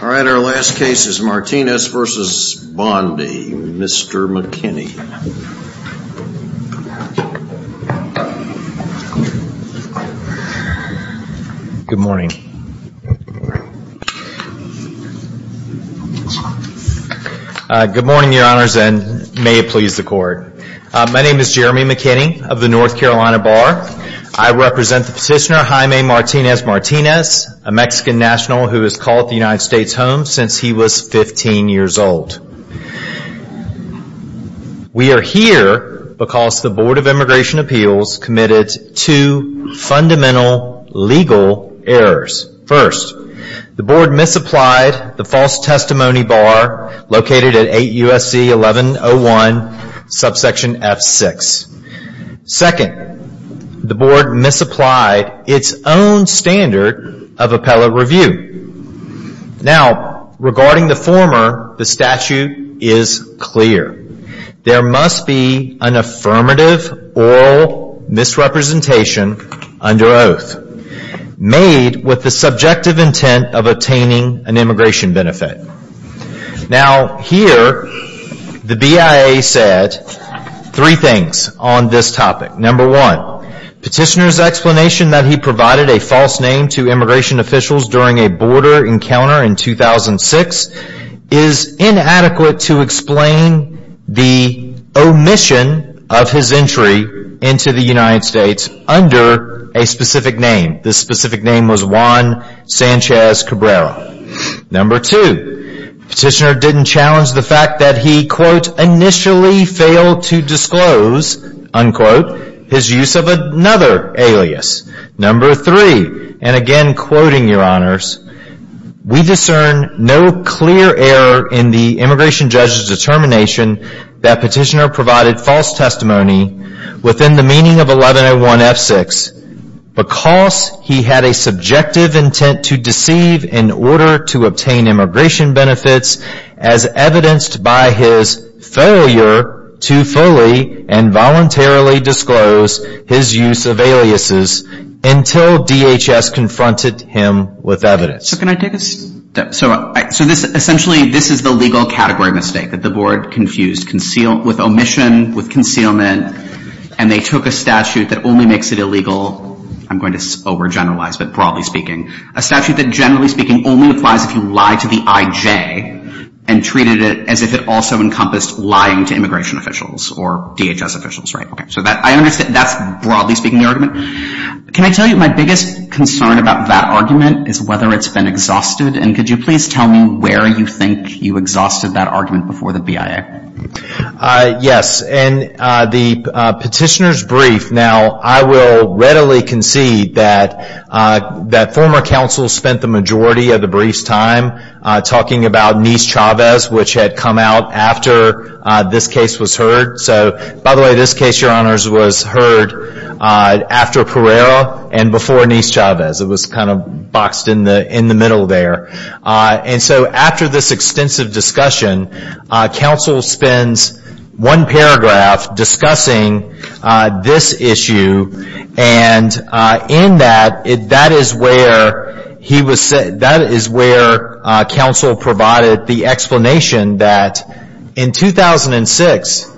All right, our last case is Martinez v. Bondi. Mr. McKinney. Good morning. Good morning, your honors, and may it please the court. My name is Jeremy McKinney of the North Carolina Bar. I represent the petitioner Jaime Martinez-Martinez, a Mexican national who has called the United States home since he was 15 years old. We are here because the Board of Immigration Appeals committed two fundamental legal errors. First, the board misapplied the false testimony bar located at 8 U.S.C. 1101, subsection F6. Second, the board misapplied its own standard of appellate review. Now, regarding the former, the statute is clear. There must be an affirmative oral misrepresentation under oath made with the subjective intent of attaining an immigration benefit. Now, here, the BIA said three things on this topic. Number one, petitioner's explanation that he provided a false name to immigration officials during a border encounter in 2006 is inadequate to explain the omission of his entry into the United States under a specific name. This specific name was Juan Sanchez Cabrera. Number two, petitioner didn't challenge the fact that he, quote, initially failed to disclose, unquote, his use of another alias. Number three, and again quoting your honors, we discern no clear error in the immigration judge's determination that petitioner provided false testimony within the meaning of 1101 F6 because he had a subjective intent to deceive in order to obtain immigration benefits as evidenced by his failure to fully and voluntarily disclose his use of aliases until DHS confronted him with evidence. So, can I take a step? So, essentially, this is the legal category mistake that the board confused with omission, with concealment, and they took a statute that only makes it illegal, I'm going to overgeneralize, but broadly speaking, a statute that, generally speaking, only applies if you lie to the IJ and treated it as if it also encompassed lying to immigration officials or DHS officials, right? Okay, so that's, broadly speaking, the argument. Can I tell you my biggest concern about that argument is whether it's been exhausted, and could you please tell me where you think you exhausted that argument before the BIA? Yes, in the petitioner's brief, now, I will readily concede that former counsel spent the majority of the brief's time talking about Nice-Chavez, which had come out after this case was heard. So, by the way, this case, Your Honors, was heard after Pereira and before Nice-Chavez. It was kind of boxed in the middle there. And so after this extensive discussion, counsel spends one paragraph discussing this issue, and in that, that is where counsel provided the explanation that in 2006,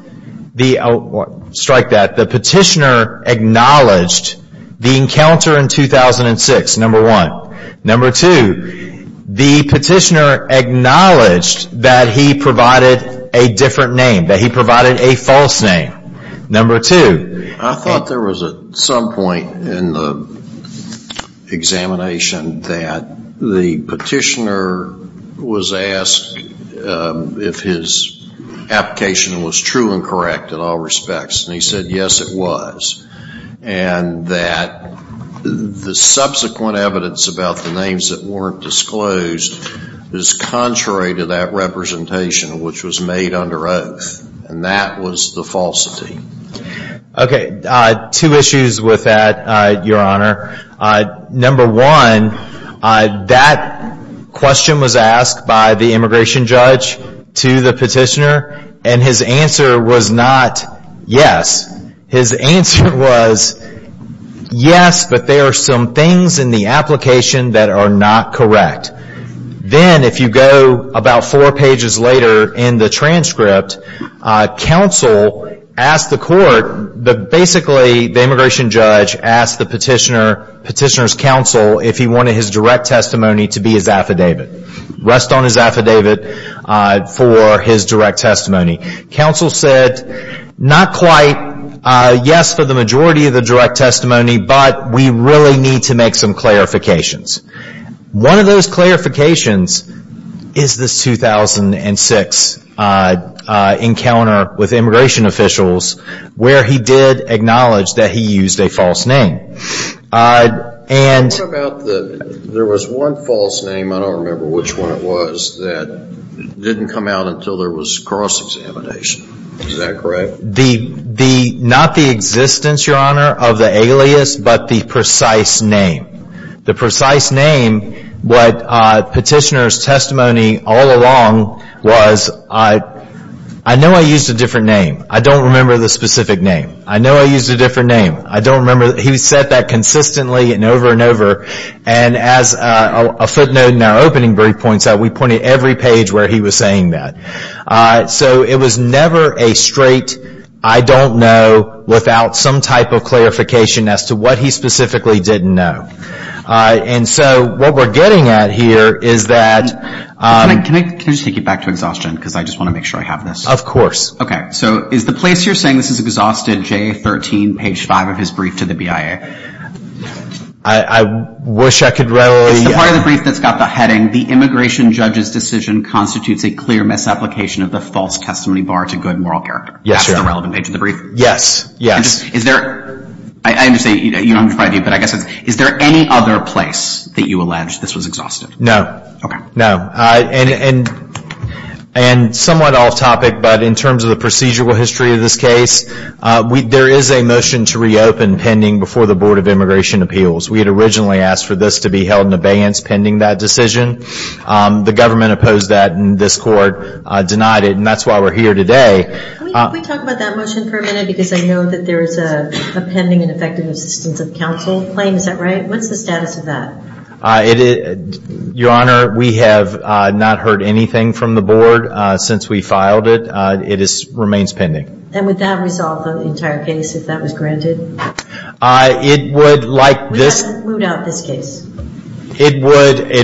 strike that, the petitioner acknowledged the encounter in 2006, number one. Number two, the petitioner acknowledged that he provided a different name, that he provided a false name, number two. I thought there was at some point in the examination that the petitioner was asked if his application was true and correct in all respects, and he said, yes, it was. And that the subsequent evidence about the names that weren't disclosed is contrary to that representation, which was made under oath, and that was the falsity. Okay, two issues with that, Your Honor. Number one, that question was asked by the immigration judge to the petitioner, and his answer was not yes. His answer was yes, but there are some things in the application that are not correct. Then if you go about four pages later in the transcript, counsel asked the court, basically the immigration judge asked the petitioner's counsel if he wanted his direct testimony to be his affidavit. Rest on his affidavit for his direct testimony. Counsel said not quite yes for the majority of the direct testimony, but we really need to make some clarifications. One of those clarifications is this 2006 encounter with immigration officials where he did acknowledge that he used a false name. There was one false name, I don't remember which one it was, that didn't come out until there was cross-examination. Is that correct? Not the existence, Your Honor, of the alias, but the precise name. The precise name, what petitioner's testimony all along was, I know I used a different name. I don't remember the specific name. I know I used a different name. I don't remember. He said that consistently and over and over. As a footnote in our opening brief points out, we pointed every page where he was saying that. It was never a straight, I don't know, without some type of clarification as to what he specifically didn't know. What we're getting at here is that... Can I just take you back to exhaustion? I just want to make sure I have this. Of course. Okay. So is the place you're saying this is exhausted, J13, page 5 of his brief to the BIA? I wish I could readily... It's the part of the brief that's got the heading, The Immigration Judge's Decision Constitutes a Clear Misapplication of the False Testimony Bar to Good Moral Character. Yes, Your Honor. That's the relevant page of the brief? Yes. Yes. Is there... I understand you don't have it in front of you, but I guess it's... Is there any other place that you allege this was exhausted? No. Okay. No. And somewhat off topic, but in terms of the procedural history of this case, there is a motion to reopen pending before the Board of Immigration Appeals. We had originally asked for this to be held in abeyance pending that decision. The government opposed that, and this Court denied it, and that's why we're here today. Can we talk about that motion for a minute? Because I know that there is a pending and effective assistance of counsel claim. Is that right? What's the status of that? Your Honor, we have not heard anything from the Board since we filed it. It remains pending. And would that resolve the entire case if that was granted? It would, like this... We haven't moved out this case. It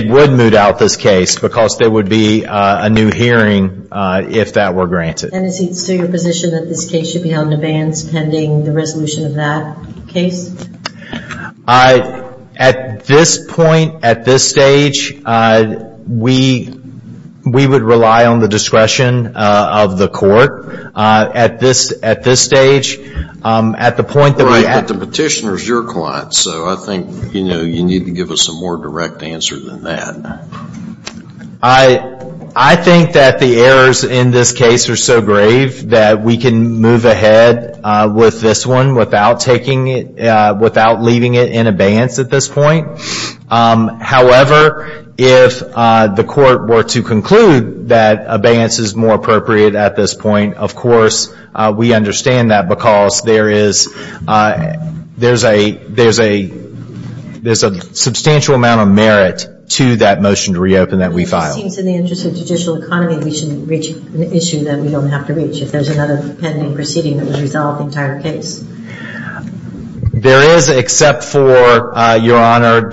would move out this case because there would be a new hearing if that were granted. And is it still your position that this case should be held in abeyance pending the resolution of that case? At this point, at this stage, we would rely on the discretion of the Court. At this stage, at the point that we... Right, but the petitioner is your client, so I think you need to give us a more direct answer than that. I think that the errors in this case are so grave that we can move ahead with this one without leaving it in abeyance at this point. However, if the Court were to conclude that abeyance is more appropriate at this point, of course we understand that because there is a substantial amount of merit to that motion to reopen that we filed. Well, it seems in the interest of judicial economy, we should reach an issue that we don't have to reach if there's another pending proceeding that would resolve the entire case. There is, except for, Your Honor,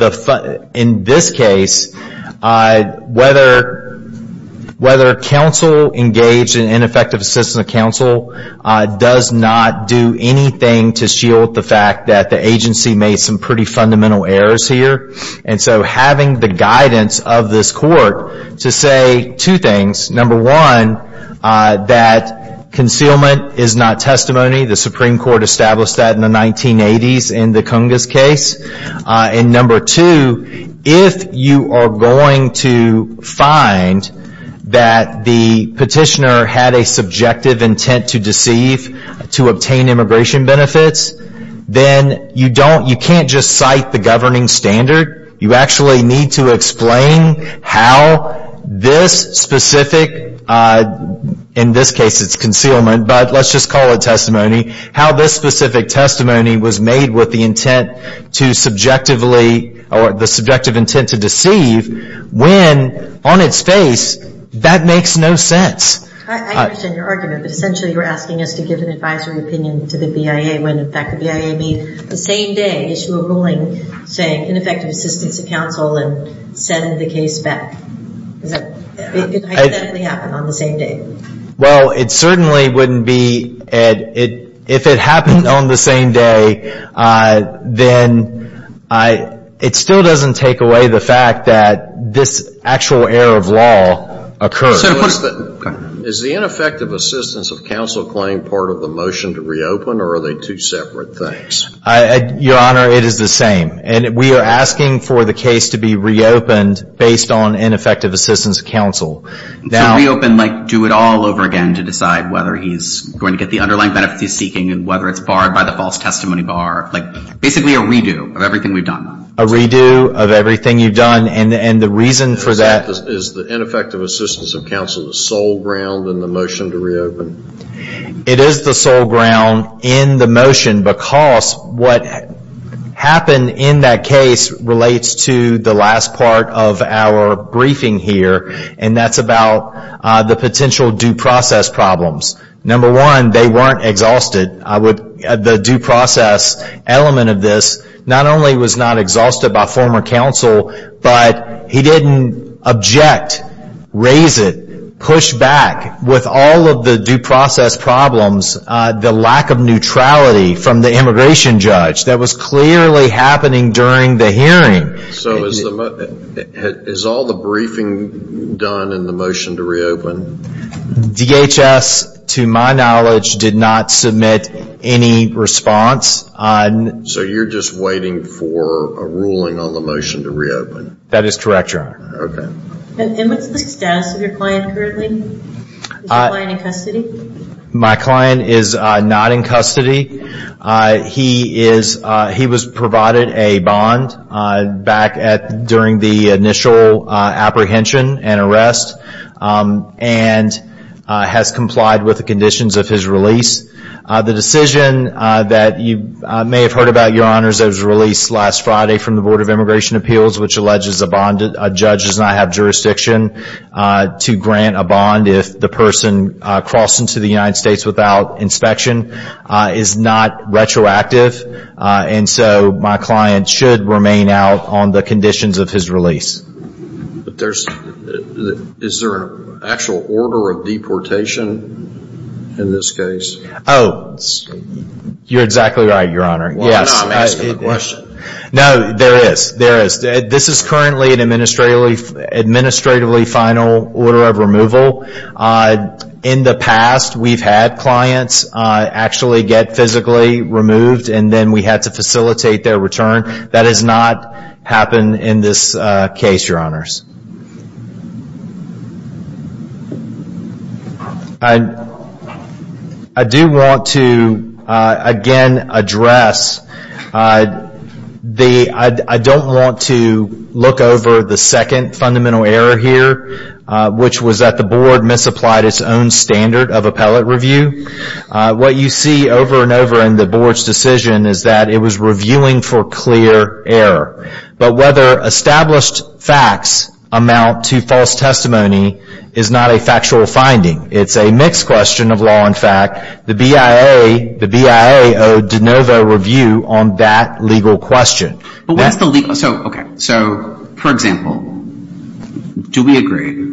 in this case, whether counsel engaged in ineffective assistance of counsel does not do anything to shield the fact that the agency made some pretty fundamental errors here. And so having the guidance of this Court to say two things. Number one, that concealment is not testimony. The Supreme Court established that in the 1980s in the Cungas case. And number two, if you are going to find that the petitioner had a subjective intent to deceive, to obtain immigration benefits, then you can't just cite the governing standard. You actually need to explain how this specific, in this case it's concealment, but let's just call it testimony, how this specific testimony was made with the intent to subjectively, or the subjective intent to deceive, when on its face that makes no sense. I understand your argument, but essentially you're asking us to give an advisory opinion to the BIA when, in fact, the BIA may, the same day, issue a ruling saying ineffective assistance of counsel and send the case back. Does that happen on the same day? Well, it certainly wouldn't be, Ed, if it happened on the same day, then it still doesn't take away the fact that this actual error of law occurs. Is the ineffective assistance of counsel claim part of the motion to reopen, or are they two separate things? Your Honor, it is the same. And we are asking for the case to be reopened based on ineffective assistance of counsel. To reopen, like do it all over again to decide whether he's going to get the underlying benefits he's seeking and whether it's barred by the false testimony bar, like basically a redo of everything we've done. A redo of everything you've done. And the reason for that — Is the ineffective assistance of counsel the sole ground in the motion to reopen? It is the sole ground in the motion, because what happened in that case relates to the last part of our briefing here, and that's about the potential due process problems. Number one, they weren't exhausted. The due process element of this not only was not exhausted by former counsel, but he didn't object, raise it, push back with all of the due process problems, the lack of neutrality from the immigration judge. That was clearly happening during the hearing. So is all the briefing done in the motion to reopen? DHS, to my knowledge, did not submit any response. So you're just waiting for a ruling on the motion to reopen? That is correct, Your Honor. Okay. And what's the status of your client currently? Is your client in custody? My client is not in custody. He was provided a bond back during the initial apprehension and arrest and has complied with the conditions of his release. The decision that you may have heard about, Your Honors, that was released last Friday from the Board of Immigration Appeals, which alleges a judge does not have jurisdiction to grant a bond if the person crossed into the United States without inspection, is not retroactive. And so my client should remain out on the conditions of his release. Is there an actual order of deportation in this case? Oh, you're exactly right, Your Honor. No, I'm asking the question. No, there is. There is. This is currently an administratively final order of removal. In the past, we've had clients actually get physically removed and then we had to facilitate their return. That has not happened in this case, Your Honors. I do want to, again, address the – I don't want to look over the second fundamental error here, which was that the board misapplied its own standard of appellate review. What you see over and over in the board's decision is that it was reviewing for clear error. But whether established facts amount to false testimony is not a factual finding. It's a mixed question of law and fact. The BIA owed de novo review on that legal question. So, for example, do we agree?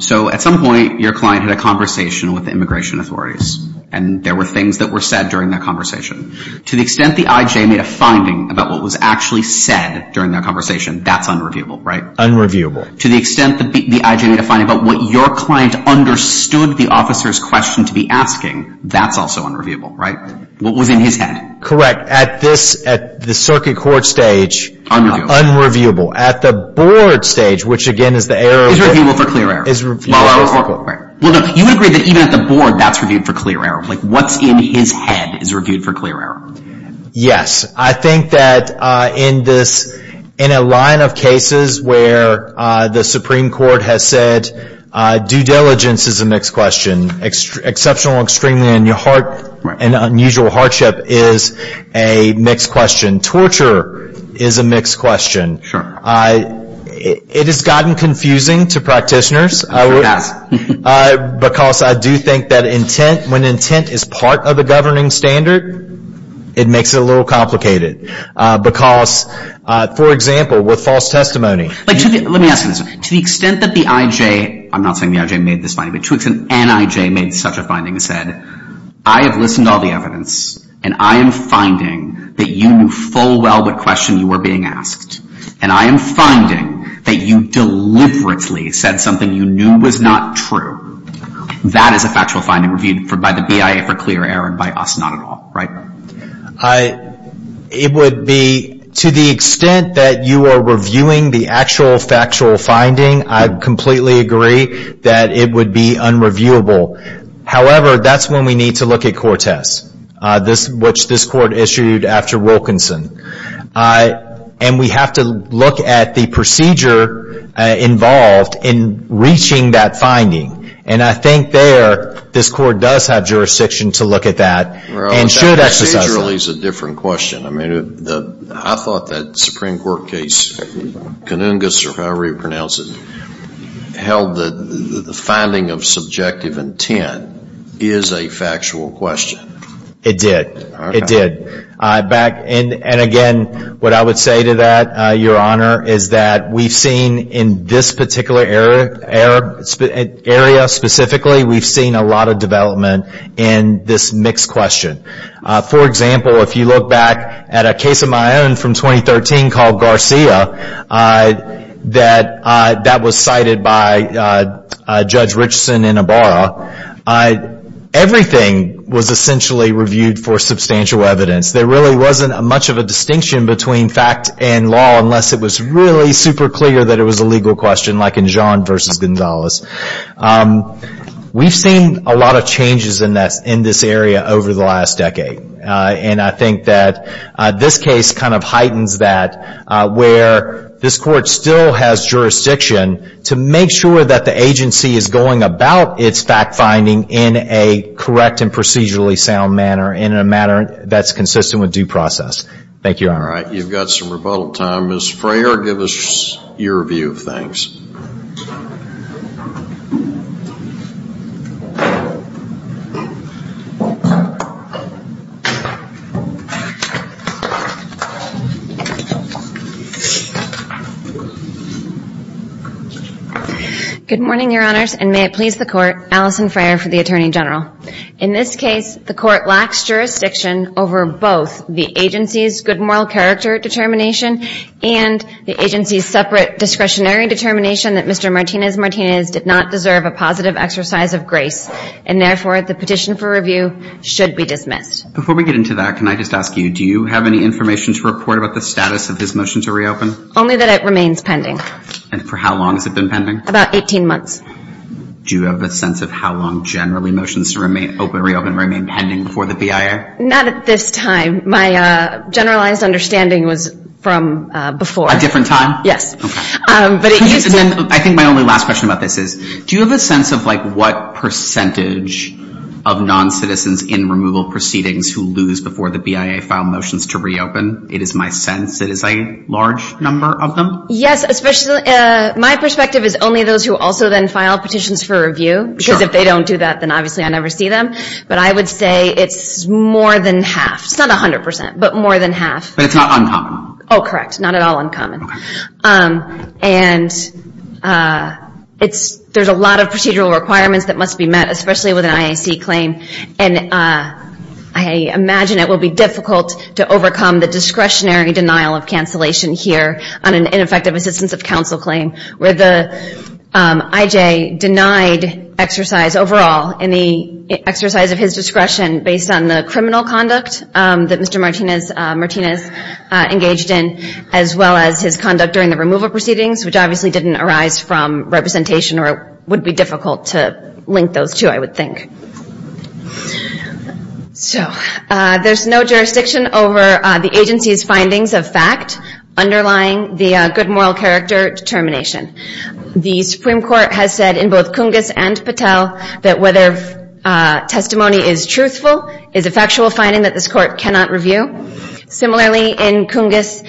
So at some point, your client had a conversation with the immigration authorities and there were things that were said during that conversation. To the extent the IJ made a finding about what was actually said during that conversation, that's unreviewable, right? Unreviewable. To the extent the IJ made a finding about what your client understood the officer's question to be asking, that's also unreviewable, right? What was in his head. Correct. At the circuit court stage, unreviewable. At the board stage, which, again, is the error – Is reviewable for clear error. You would agree that even at the board, that's reviewed for clear error. What's in his head is reviewed for clear error. I think that in a line of cases where the Supreme Court has said due diligence is a mixed question, exceptional, extreme, and unusual hardship is a mixed question, torture is a mixed question. Sure. It has gotten confusing to practitioners. Yes. Because I do think that intent, when intent is part of the governing standard, it makes it a little complicated. Because, for example, with false testimony. Let me ask you this. To the extent that the IJ – I'm not saying the IJ made this finding, but Twix and NIJ made such a finding and said, I have listened to all the evidence and I am finding that you knew full well what question you were being asked. And I am finding that you deliberately said something you knew was not true. That is a factual finding reviewed by the BIA for clear error and by us not at all, right? It would be – to the extent that you are reviewing the actual factual finding, I completely agree that it would be unreviewable. However, that's when we need to look at court tests, which this court issued after Wilkinson. And we have to look at the procedure involved in reaching that finding. And I think there this court does have jurisdiction to look at that and should exercise that. Well, that procedurally is a different question. I mean, I thought that Supreme Court case, Canungus or however you pronounce it, held that the finding of subjective intent is a factual question. It did. Okay. It did. And again, what I would say to that, Your Honor, is that we've seen in this particular area specifically, we've seen a lot of development in this mixed question. For example, if you look back at a case of my own from 2013 called Garcia, that was cited by Judge Richardson in Ibarra. Everything was essentially reviewed for substantial evidence. There really wasn't much of a distinction between fact and law unless it was really super clear that it was a legal question, like in Jean versus Gonzalez. We've seen a lot of changes in this area over the last decade. And I think that this case kind of heightens that, where this court still has jurisdiction to make sure that the agency is going about its fact-finding in a correct and procedurally sound manner and in a manner that's consistent with due process. Thank you, Your Honor. All right. You've got some rebuttal time. Ms. Frayer, give us your view of things. Good morning, Your Honors, and may it please the court, Alison Frayer for the Attorney General. In this case, the court lacks jurisdiction over both the agency's good moral character determination and the agency's separate discretionary determination that Mr. Martinez-Martinez did not deserve a positive exercise of grace, and therefore the petition for review should be dismissed. Before we get into that, can I just ask you, do you have any information to report about the status of his motion to reopen? Only that it remains pending. And for how long has it been pending? About 18 months. Do you have a sense of how long generally motions to reopen remain pending before the BIA? Not at this time. My generalized understanding was from before. A different time? Yes. I think my only last question about this is, do you have a sense of, like, what percentage of noncitizens in removal proceedings who lose before the BIA file motions to reopen? It is my sense it is a large number of them. Yes. My perspective is only those who also then file petitions for review because if they don't do that, then obviously I never see them. But I would say it's more than half. It's not 100 percent, but more than half. But it's not uncommon. Oh, correct. Not at all uncommon. Okay. And there's a lot of procedural requirements that must be met, especially with an IAC claim, and I imagine it will be difficult to overcome the discretionary denial of cancellation here on an ineffective assistance of counsel claim where the IJ denied exercise overall, any exercise of his discretion based on the criminal conduct that Mr. Martinez engaged in, as well as his conduct during the removal proceedings, which obviously didn't arise from representation or would be difficult to link those two, I would think. So there's no jurisdiction over the agency's findings of fact underlying the good moral character determination. The Supreme Court has said in both Cungas and Patel that whether testimony is truthful is a factual finding that this court cannot review. Similarly, in Cungas,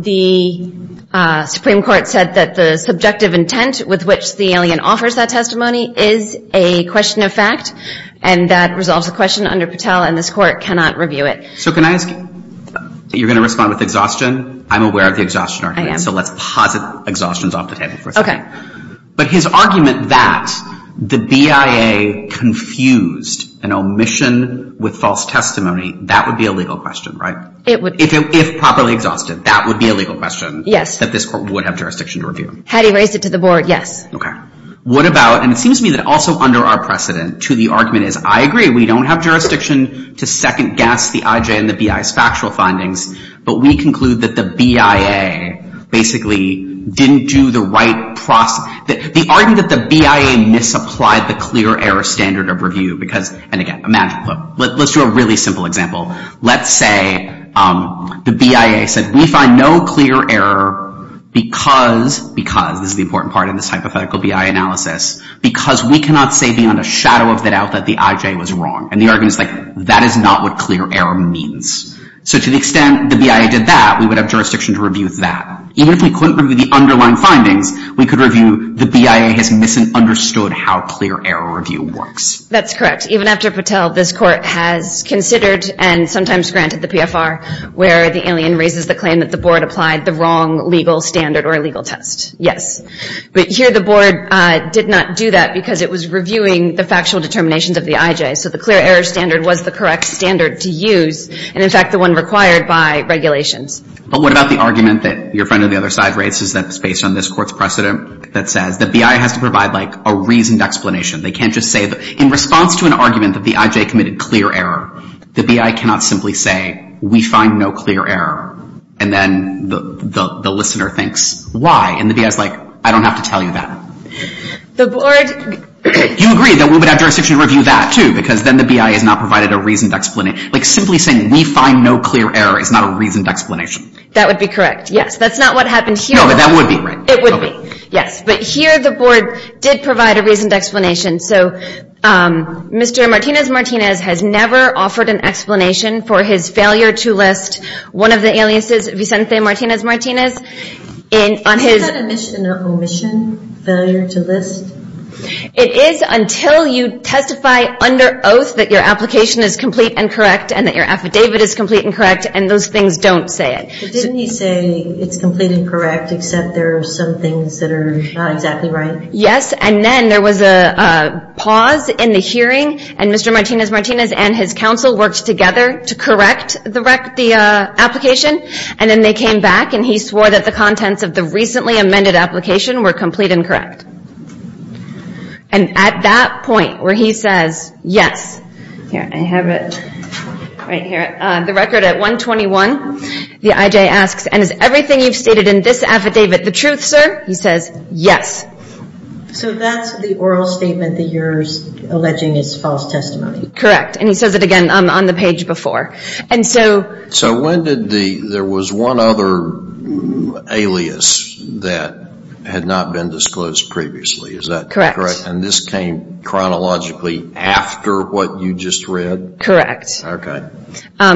the Supreme Court said that the subjective intent with which the alien offers that testimony is a question of fact, and that resolves the question under Patel, and this court cannot review it. So can I ask, you're going to respond with exhaustion? I'm aware of the exhaustion argument. I am. So let's posit exhaustions off the table for a second. But his argument that the BIA confused an omission with false testimony, that would be a legal question, right? It would. If properly exhausted, that would be a legal question. Yes. That this court would have jurisdiction to review. Had he raised it to the board, yes. Okay. What about, and it seems to me that also under our precedent, to the argument is, I agree, we don't have jurisdiction to second-guess the IJ and the BIA's factual findings, but we conclude that the BIA basically didn't do the right, the argument that the BIA misapplied the clear error standard of review because, and again, imagine, let's do a really simple example. Let's say the BIA said, we find no clear error because, because, this is the important part in this hypothetical BIA analysis, because we cannot say beyond a shadow of a doubt that the IJ was wrong. And the argument is like, that is not what clear error means. So to the extent the BIA did that, we would have jurisdiction to review that. Even if we couldn't review the underlying findings, we could review the BIA has misunderstood how clear error review works. That's correct. Even after Patel, this court has considered and sometimes granted the PFR where the alien raises the claim that the board applied the wrong legal standard or legal test. Yes. But here the board did not do that because it was reviewing the factual determinations of the IJ. So the clear error standard was the correct standard to use. And, in fact, the one required by regulations. But what about the argument that your friend on the other side raises that is based on this court's precedent that says the BIA has to provide like a reasoned explanation. They can't just say, in response to an argument that the IJ committed clear error, the BIA cannot simply say, we find no clear error. And then the listener thinks, why? And the BIA is like, I don't have to tell you that. The board. You agree that we would have jurisdiction to review that, too, because then the BIA has not provided a reasoned explanation. Like simply saying, we find no clear error is not a reasoned explanation. That would be correct. Yes. That's not what happened here. No, but that would be right. It would be. Yes. But here the board did provide a reasoned explanation. So Mr. Martinez-Martinez has never offered an explanation for his failure to list one of the aliases, Vicente Martinez-Martinez. Is that an omission, failure to list? It is until you testify under oath that your application is complete and correct and that your affidavit is complete and correct, and those things don't say it. But didn't he say it's complete and correct, except there are some things that are not exactly right? Yes. And then there was a pause in the hearing, and Mr. Martinez-Martinez and his counsel worked together to correct the application. And then they came back, and he swore that the contents of the recently amended application were complete and correct. And at that point where he says, yes, here I have it right here, the record at 121, the IJ asks, and is everything you've stated in this affidavit the truth, sir? He says, yes. So that's the oral statement that you're alleging is false testimony. Correct. And he says it again on the page before. So there was one other alias that had not been disclosed previously. Is that correct? And this came chronologically after what you just read? Correct. Okay.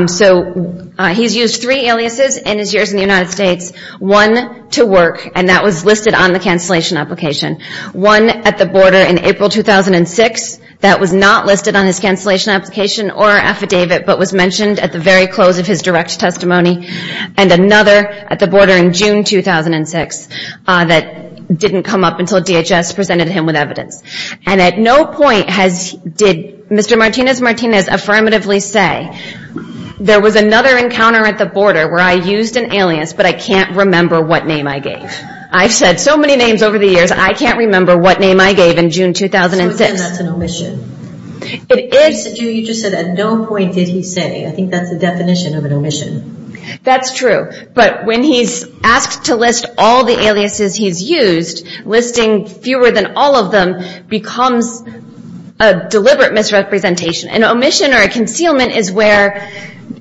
So he's used three aliases in his years in the United States, one to work, and that was listed on the cancellation application. One at the border in April 2006 that was not listed on his cancellation application or affidavit, but was mentioned at the very close of his direct testimony. And another at the border in June 2006 that didn't come up until DHS presented him with evidence. And at no point did Mr. Martinez-Martinez affirmatively say, there was another encounter at the border where I used an alias, but I can't remember what name I gave. I've said so many names over the years, I can't remember what name I gave in June 2006. So again, that's an omission. You just said at no point did he say. I think that's the definition of an omission. That's true. But when he's asked to list all the aliases he's used, listing fewer than all of them becomes a deliberate misrepresentation. An omission or a concealment is where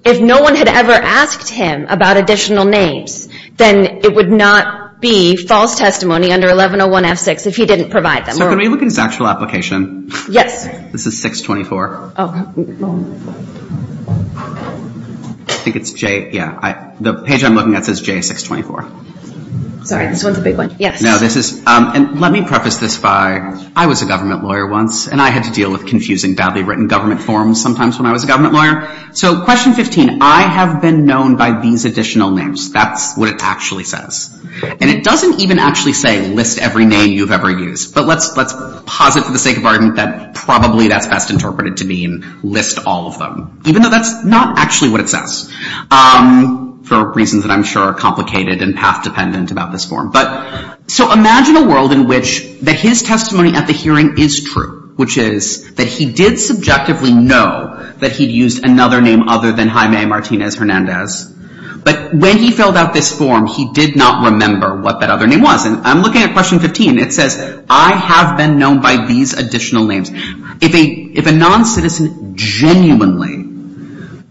if no one had ever asked him about additional names, then it would not be false testimony under 1101F6 if he didn't provide them. So can we look at his actual application? Yes. This is 624. I think it's J, yeah. The page I'm looking at says J624. Sorry, this one's a big one. Yes. And let me preface this by, I was a government lawyer once, and I had to deal with confusing badly written government forms sometimes when I was a government lawyer. So question 15, I have been known by these additional names. That's what it actually says. And it doesn't even actually say list every name you've ever used. But let's posit for the sake of argument that probably that's best interpreted to mean list all of them, even though that's not actually what it says for reasons that I'm sure are complicated and path-dependent about this form. So imagine a world in which his testimony at the hearing is true, which is that he did subjectively know that he'd used another name other than Jaime Martinez Hernandez. But when he filled out this form, he did not remember what that other name was. And I'm looking at question 15. It says I have been known by these additional names. If a noncitizen genuinely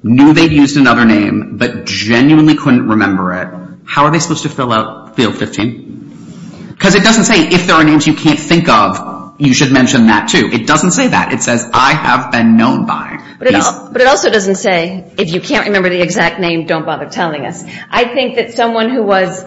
knew they'd used another name but genuinely couldn't remember it, how are they supposed to fill out field 15? Because it doesn't say if there are names you can't think of, you should mention that too. It doesn't say that. It says I have been known by. But it also doesn't say if you can't remember the exact name, don't bother telling us. I think that someone who was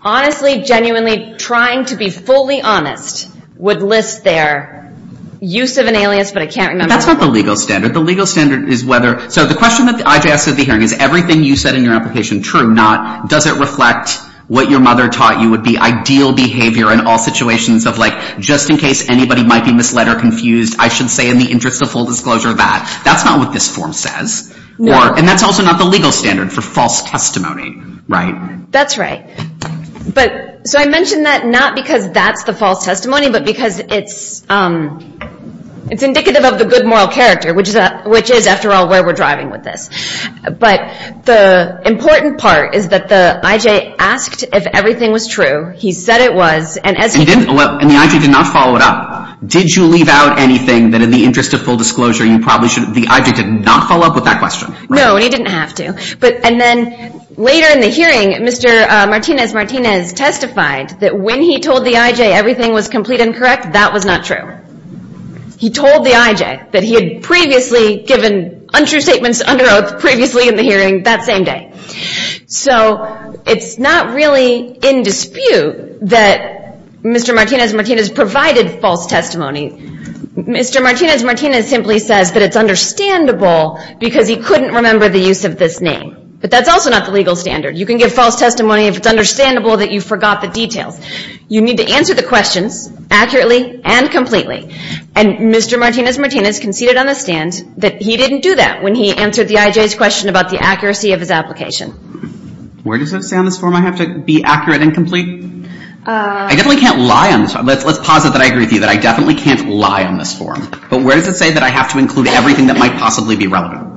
honestly, genuinely trying to be fully honest would list their use of an alias, but I can't remember. That's not the legal standard. The legal standard is whether... So the question that I just asked at the hearing is everything you said in your application true, not, does it reflect what your mother taught you would be ideal behavior in all situations of like, just in case anybody might be misled or confused, I should say in the interest of full disclosure that. That's not what this form says. No. And that's also not the legal standard for false testimony, right? That's right. So I mention that not because that's the false testimony, but because it's indicative of the good moral character, which is, after all, where we're driving with this. But the important part is that the IJ asked if everything was true. He said it was. And the IJ did not follow it up. Did you leave out anything that in the interest of full disclosure, you probably should have... The IJ did not follow up with that question, right? No, and he didn't have to. And then later in the hearing, Mr. Martinez-Martinez testified that when he told the IJ everything was complete and correct, that was not true. He told the IJ that he had previously given untrue statements under oath previously in the hearing that same day. So it's not really in dispute that Mr. Martinez-Martinez provided false testimony. Mr. Martinez-Martinez simply says that it's understandable because he couldn't remember the use of this name. But that's also not the legal standard. You can give false testimony if it's understandable that you forgot the details. You need to answer the questions accurately and completely. And Mr. Martinez-Martinez conceded on the stand that he didn't do that when he answered the IJ's question about the accuracy of his application. Where does it say on this form I have to be accurate and complete? I definitely can't lie on this one. Let's posit that I agree with you, that I definitely can't lie on this form. But where does it say that I have to include everything that might possibly be relevant?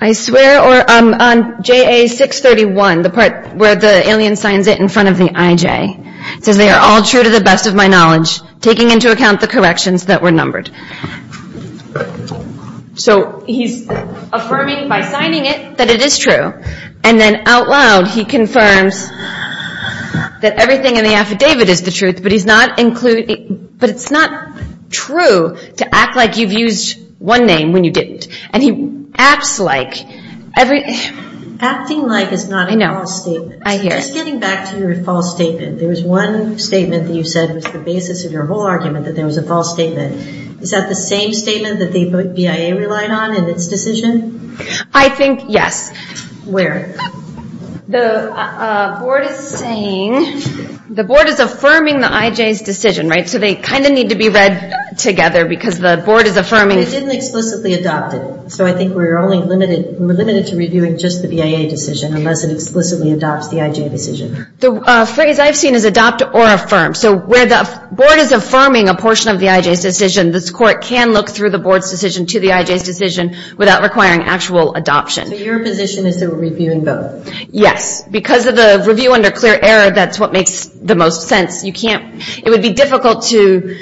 I swear on JA 631, the part where the alien signs it in front of the IJ. It says they are all true to the best of my knowledge, taking into account the corrections that were numbered. So he's affirming by signing it that it is true. And then out loud, he confirms that everything in the affidavit is the truth, but it's not true to act like you've used one name when you didn't. And he acts like. Acting like is not a false statement. Just getting back to your false statement, there was one statement that you said was the basis of your whole argument, that there was a false statement. Is that the same statement that the BIA relied on in its decision? I think yes. Where? The board is saying, the board is affirming the IJ's decision, right? So they kind of need to be read together because the board is affirming. They didn't explicitly adopt it. So I think we're only limited to reviewing just the BIA decision, unless it explicitly adopts the IJ decision. The phrase I've seen is adopt or affirm. So where the board is affirming a portion of the IJ's decision, this court can look through the board's decision to the IJ's decision without requiring actual adoption. So your position is to review and vote? Yes. Because of the review under clear error, that's what makes the most sense. You can't, it would be difficult to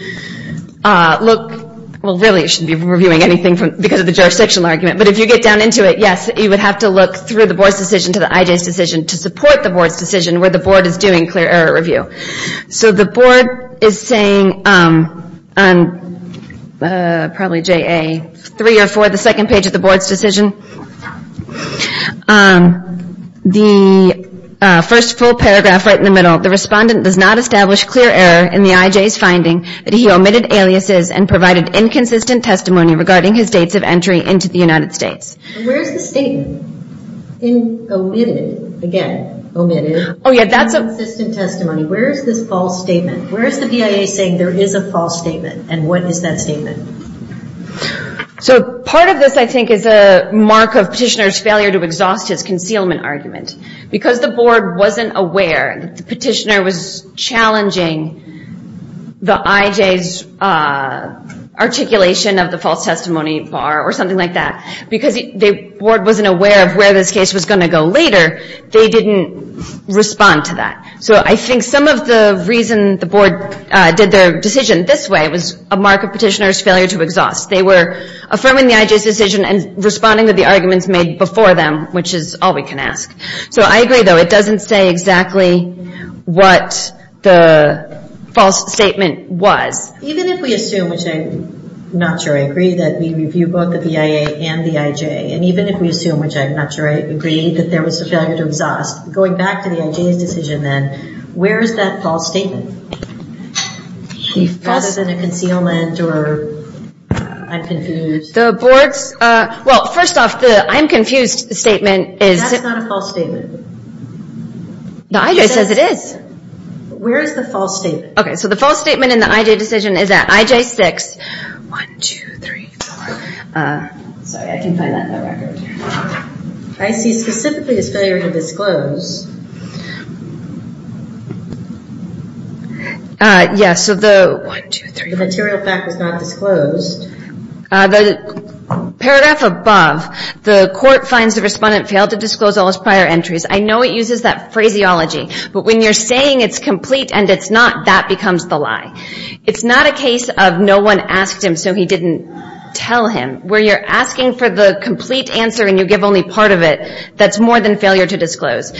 look, well really it shouldn't be reviewing anything because of the jurisdictional argument. But if you get down into it, yes, you would have to look through the board's decision to the IJ's decision to support the board's decision where the board is doing clear error review. So the board is saying on probably JA 3 or 4, the second page of the board's decision, the first full paragraph right in the middle, the respondent does not establish clear error in the IJ's finding that he omitted aliases and provided inconsistent testimony regarding his dates of entry into the United States. Where's the statement? In omitted, again omitted, inconsistent testimony. Where is this false statement? Where is the BIA saying there is a false statement? And what is that statement? So part of this I think is a mark of petitioner's failure to exhaust his concealment argument. Because the board wasn't aware that the petitioner was challenging the IJ's articulation of the false testimony bar or something like that. Because the board wasn't aware of where this case was going to go later, they didn't respond to that. So I think some of the reason the board did their decision this way was a mark of petitioner's failure to exhaust. They were affirming the IJ's decision and responding to the arguments made before them, which is all we can ask. So I agree, though, it doesn't say exactly what the false statement was. Even if we assume, which I'm not sure I agree, that we review both the BIA and the IJ, and even if we assume, which I'm not sure I agree, that there was a failure to exhaust, going back to the IJ's decision then, where is that false statement? Rather than a concealment or I'm confused. The board's, well, first off, the I'm confused statement is That's not a false statement. The IJ says it is. Where is the false statement? Okay, so the false statement in the IJ decision is at IJ 6. 1, 2, 3, 4. Sorry, I can't find that in the record. I see specifically as failure to disclose. Yes, so the 1, 2, 3, 4. The material fact was not disclosed. The paragraph above, the court finds the respondent failed to disclose all his prior entries. I know it uses that phraseology, but when you're saying it's complete and it's not, that becomes the lie. It's not a case of no one asked him so he didn't tell him. Where you're asking for the complete answer and you give only part of it, that's more than failure to disclose.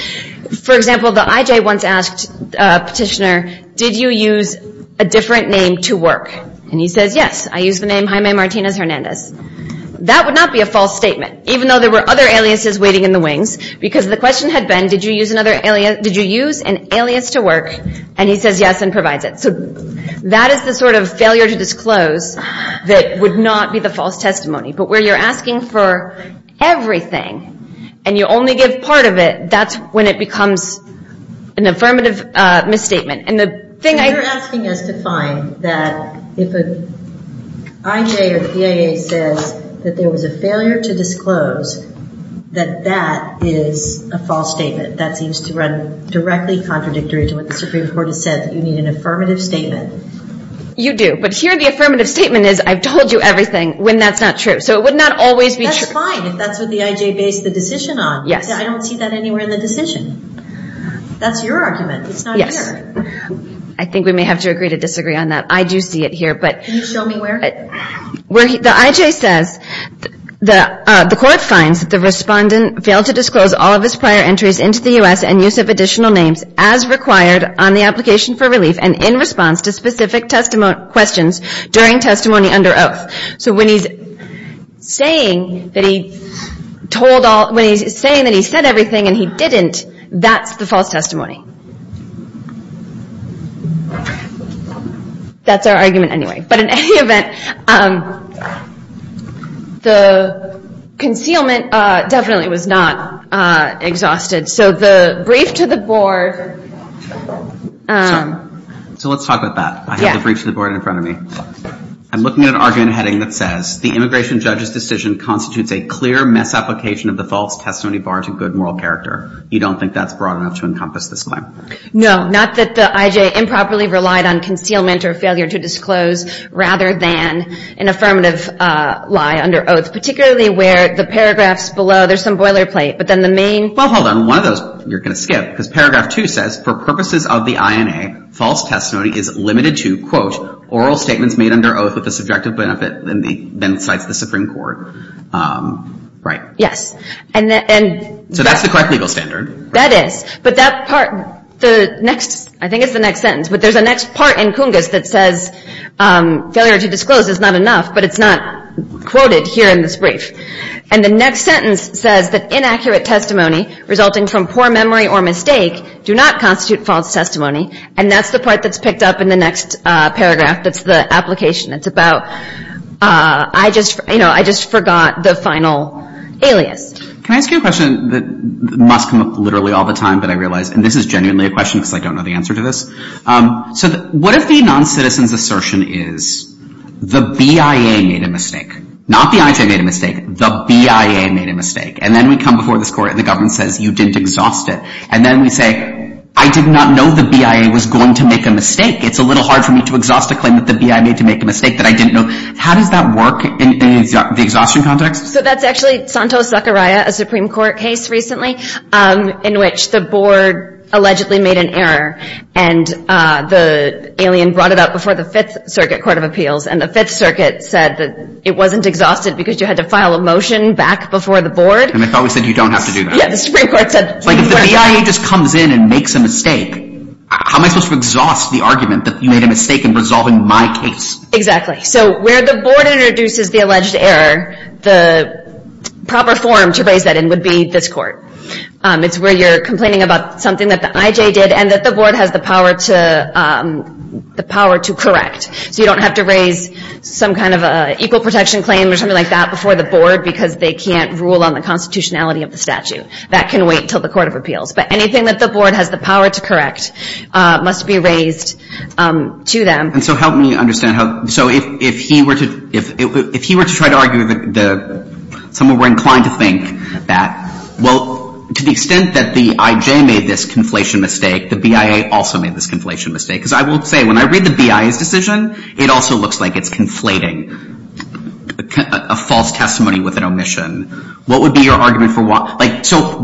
For example, the IJ once asked a petitioner, did you use a different name to work? And he says, yes, I used the name Jaime Martinez Hernandez. That would not be a false statement, even though there were other aliases waiting in the wings, because the question had been, did you use an alias to work? And he says, yes, and provides it. So that is the sort of failure to disclose that would not be the false testimony. But where you're asking for everything and you only give part of it, that's when it becomes an affirmative misstatement. You're asking us to find that if an IJ or PIA says that there was a failure to disclose, that that is a false statement. That seems to run directly contradictory to what the Supreme Court has said, that you need an affirmative statement. You do. But here the affirmative statement is, I've told you everything, when that's not true. So it would not always be true. That's fine if that's what the IJ based the decision on. Yes. I don't see that anywhere in the decision. That's your argument. It's not here. I think we may have to agree to disagree on that. I do see it here. Can you show me where? The IJ says, the court finds that the respondent failed to disclose all of his prior entries into the U.S. and use of additional names as required on the application for relief and in response to specific questions during testimony under oath. So when he's saying that he said everything and he didn't, that's the false testimony. That's our argument anyway. But in any event, the concealment definitely was not exhausted. So the brief to the board. So let's talk about that. I have the brief to the board in front of me. I'm looking at an argument heading that says, the immigration judge's decision constitutes a clear misapplication of the false testimony bar to good moral character. You don't think that's broad enough to encompass this claim? No. Not that the IJ improperly relied on concealment or failure to disclose rather than an affirmative lie under oath, particularly where the paragraphs below, there's some boilerplate. But then the main. Well, hold on. One of those you're going to skip because paragraph two says, for purposes of the INA, false testimony is limited to, quote, oral statements made under oath with a subjective benefit, then cites the Supreme Court. Right. So that's the correct legal standard. That is. But that part, the next, I think it's the next sentence, but there's a next part in Cungus that says failure to disclose is not enough, but it's not quoted here in this brief. And the next sentence says that inaccurate testimony resulting from poor memory or mistake do not constitute false testimony. And that's the part that's picked up in the next paragraph that's the application. It's about I just, you know, I just forgot the final alias. Can I ask you a question that must come up literally all the time, but I realize, and this is genuinely a question because I don't know the answer to this. So what if the noncitizen's assertion is the BIA made a mistake? Not the IJ made a mistake. The BIA made a mistake. And then we come before this court and the government says you didn't exhaust it. And then we say I did not know the BIA was going to make a mistake. It's a little hard for me to exhaust a claim that the BIA made to make a mistake that I didn't know. How does that work in the exhaustion context? So that's actually Santos-Zachariah, a Supreme Court case recently, in which the board allegedly made an error and the alien brought it up before the Fifth Circuit Court of Appeals. And the Fifth Circuit said that it wasn't exhausted because you had to file a motion back before the board. And they thought we said you don't have to do that. If the BIA just comes in and makes a mistake, how am I supposed to exhaust the argument that you made a mistake in resolving my case? Exactly. So where the board introduces the alleged error, the proper forum to raise that in would be this court. It's where you're complaining about something that the IJ did and that the board has the power to correct. So you don't have to raise some kind of an equal protection claim or something like that before the board because they can't rule on the constitutionality of the statute. That can wait until the Court of Appeals. But anything that the board has the power to correct must be raised to them. And so help me understand. So if he were to try to argue that someone were inclined to think that, well, to the extent that the IJ made this conflation mistake, the BIA also made this conflation mistake. Because I will say, when I read the BIA's decision, it also looks like it's conflating a false testimony with an omission. What would be your argument for why? So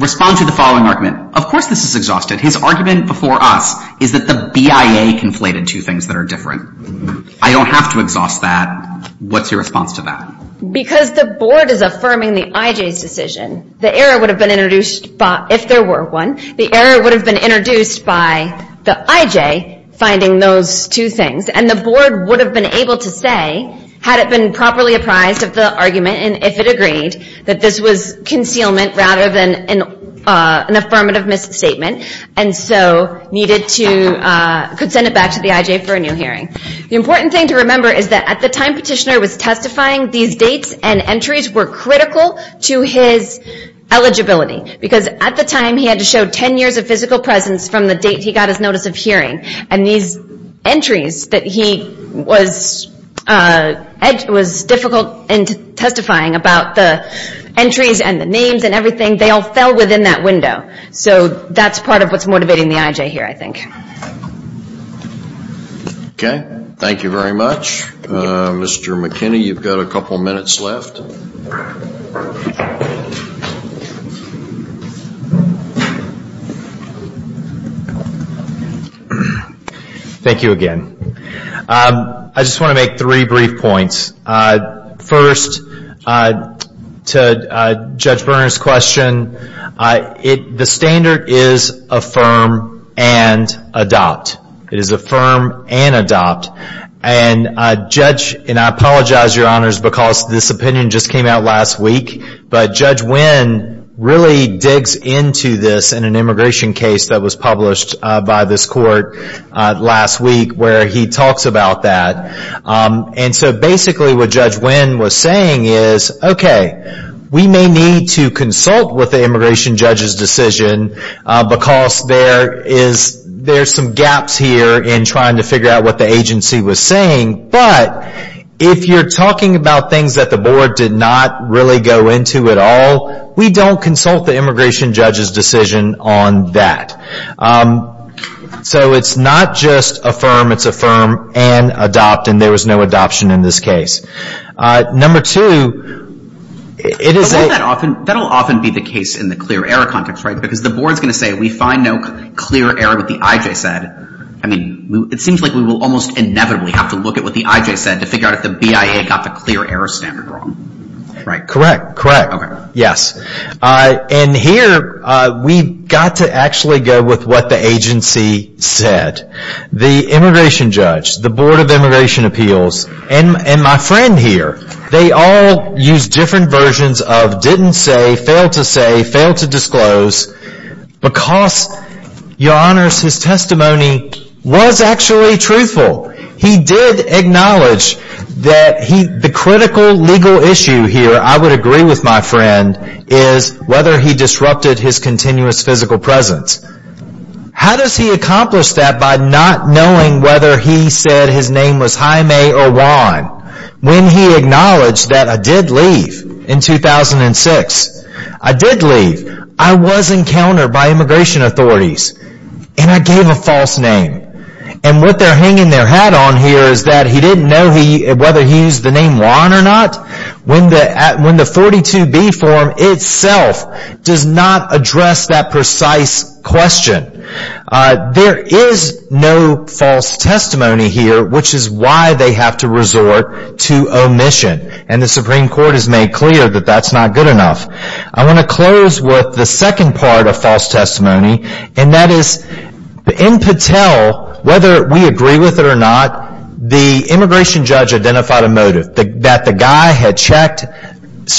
respond to the following argument. Of course this is exhausted. His argument before us is that the BIA conflated two things that are different. I don't have to exhaust that. What's your response to that? Because the board is affirming the IJ's decision, the error would have been introduced if there were one. The error would have been introduced by the IJ finding those two things. And the board would have been able to say, had it been properly apprised of the argument and if it agreed, that this was concealment rather than an affirmative misstatement and so could send it back to the IJ for a new hearing. The important thing to remember is that at the time Petitioner was testifying, these dates and entries were critical to his eligibility. Because at the time he had to show 10 years of physical presence from the date he got his notice of hearing. And these entries that he was difficult in testifying about, the entries and the names and everything, they all fell within that window. So that's part of what's motivating the IJ here, I think. Okay. Thank you very much. Mr. McKinney, you've got a couple minutes left. Thank you again. I just want to make three brief points. First, to Judge Berner's question, the standard is affirm and adopt. It is affirm and adopt. And I apologize, Your Honors, because this opinion just came out last week. But Judge Winn really digs into this in an immigration case that was published by this court last week where he talks about that. And so basically what Judge Winn was saying is, okay, we may need to consult with the immigration judge's decision because there's some gaps here in trying to figure out what the agency was saying. But if you're talking about things that the Board did not really go into at all, we don't consult the immigration judge's decision on that. So it's not just affirm, it's affirm and adopt, and there was no adoption in this case. Number two, it is a— That will often be the case in the clear error context, right? Because the Board is going to say we find no clear error with the IJ said. I mean, it seems like we will almost inevitably have to look at what the IJ said to figure out if the BIA got the clear error standard wrong, right? Correct, correct. Okay. Yes. And here we've got to actually go with what the agency said. The immigration judge, the Board of Immigration Appeals, and my friend here, they all used different versions of didn't say, failed to say, failed to disclose because, Your Honors, his testimony was actually truthful. He did acknowledge that the critical legal issue here, I would agree with my friend, is whether he disrupted his continuous physical presence. How does he accomplish that by not knowing whether he said his name was Jaime or Juan when he acknowledged that I did leave in 2006? I did leave. I was encountered by immigration authorities, and I gave a false name. And what they're hanging their hat on here is that he didn't know whether he used the name Juan or not when the 42B form itself does not address that precise question. There is no false testimony here, which is why they have to resort to omission, and the Supreme Court has made clear that that's not good enough. I want to close with the second part of false testimony, and that is in Patel, whether we agree with it or not, the immigration judge identified a motive, that the guy had checked a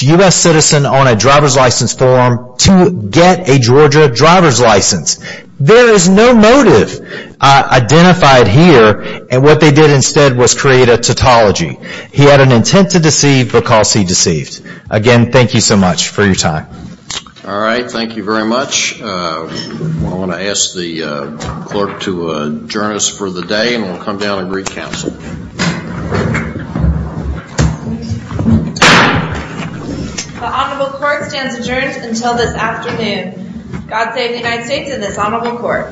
U.S. citizen on a driver's license form to get a Georgia driver's license. There is no motive identified here, and what they did instead was create a tautology. He had an intent to deceive because he deceived. Again, thank you so much for your time. All right, thank you very much. I want to ask the clerk to adjourn us for the day, and we'll come down and re-counsel. The honorable court stands adjourned until this afternoon. God save the United States and this honorable court.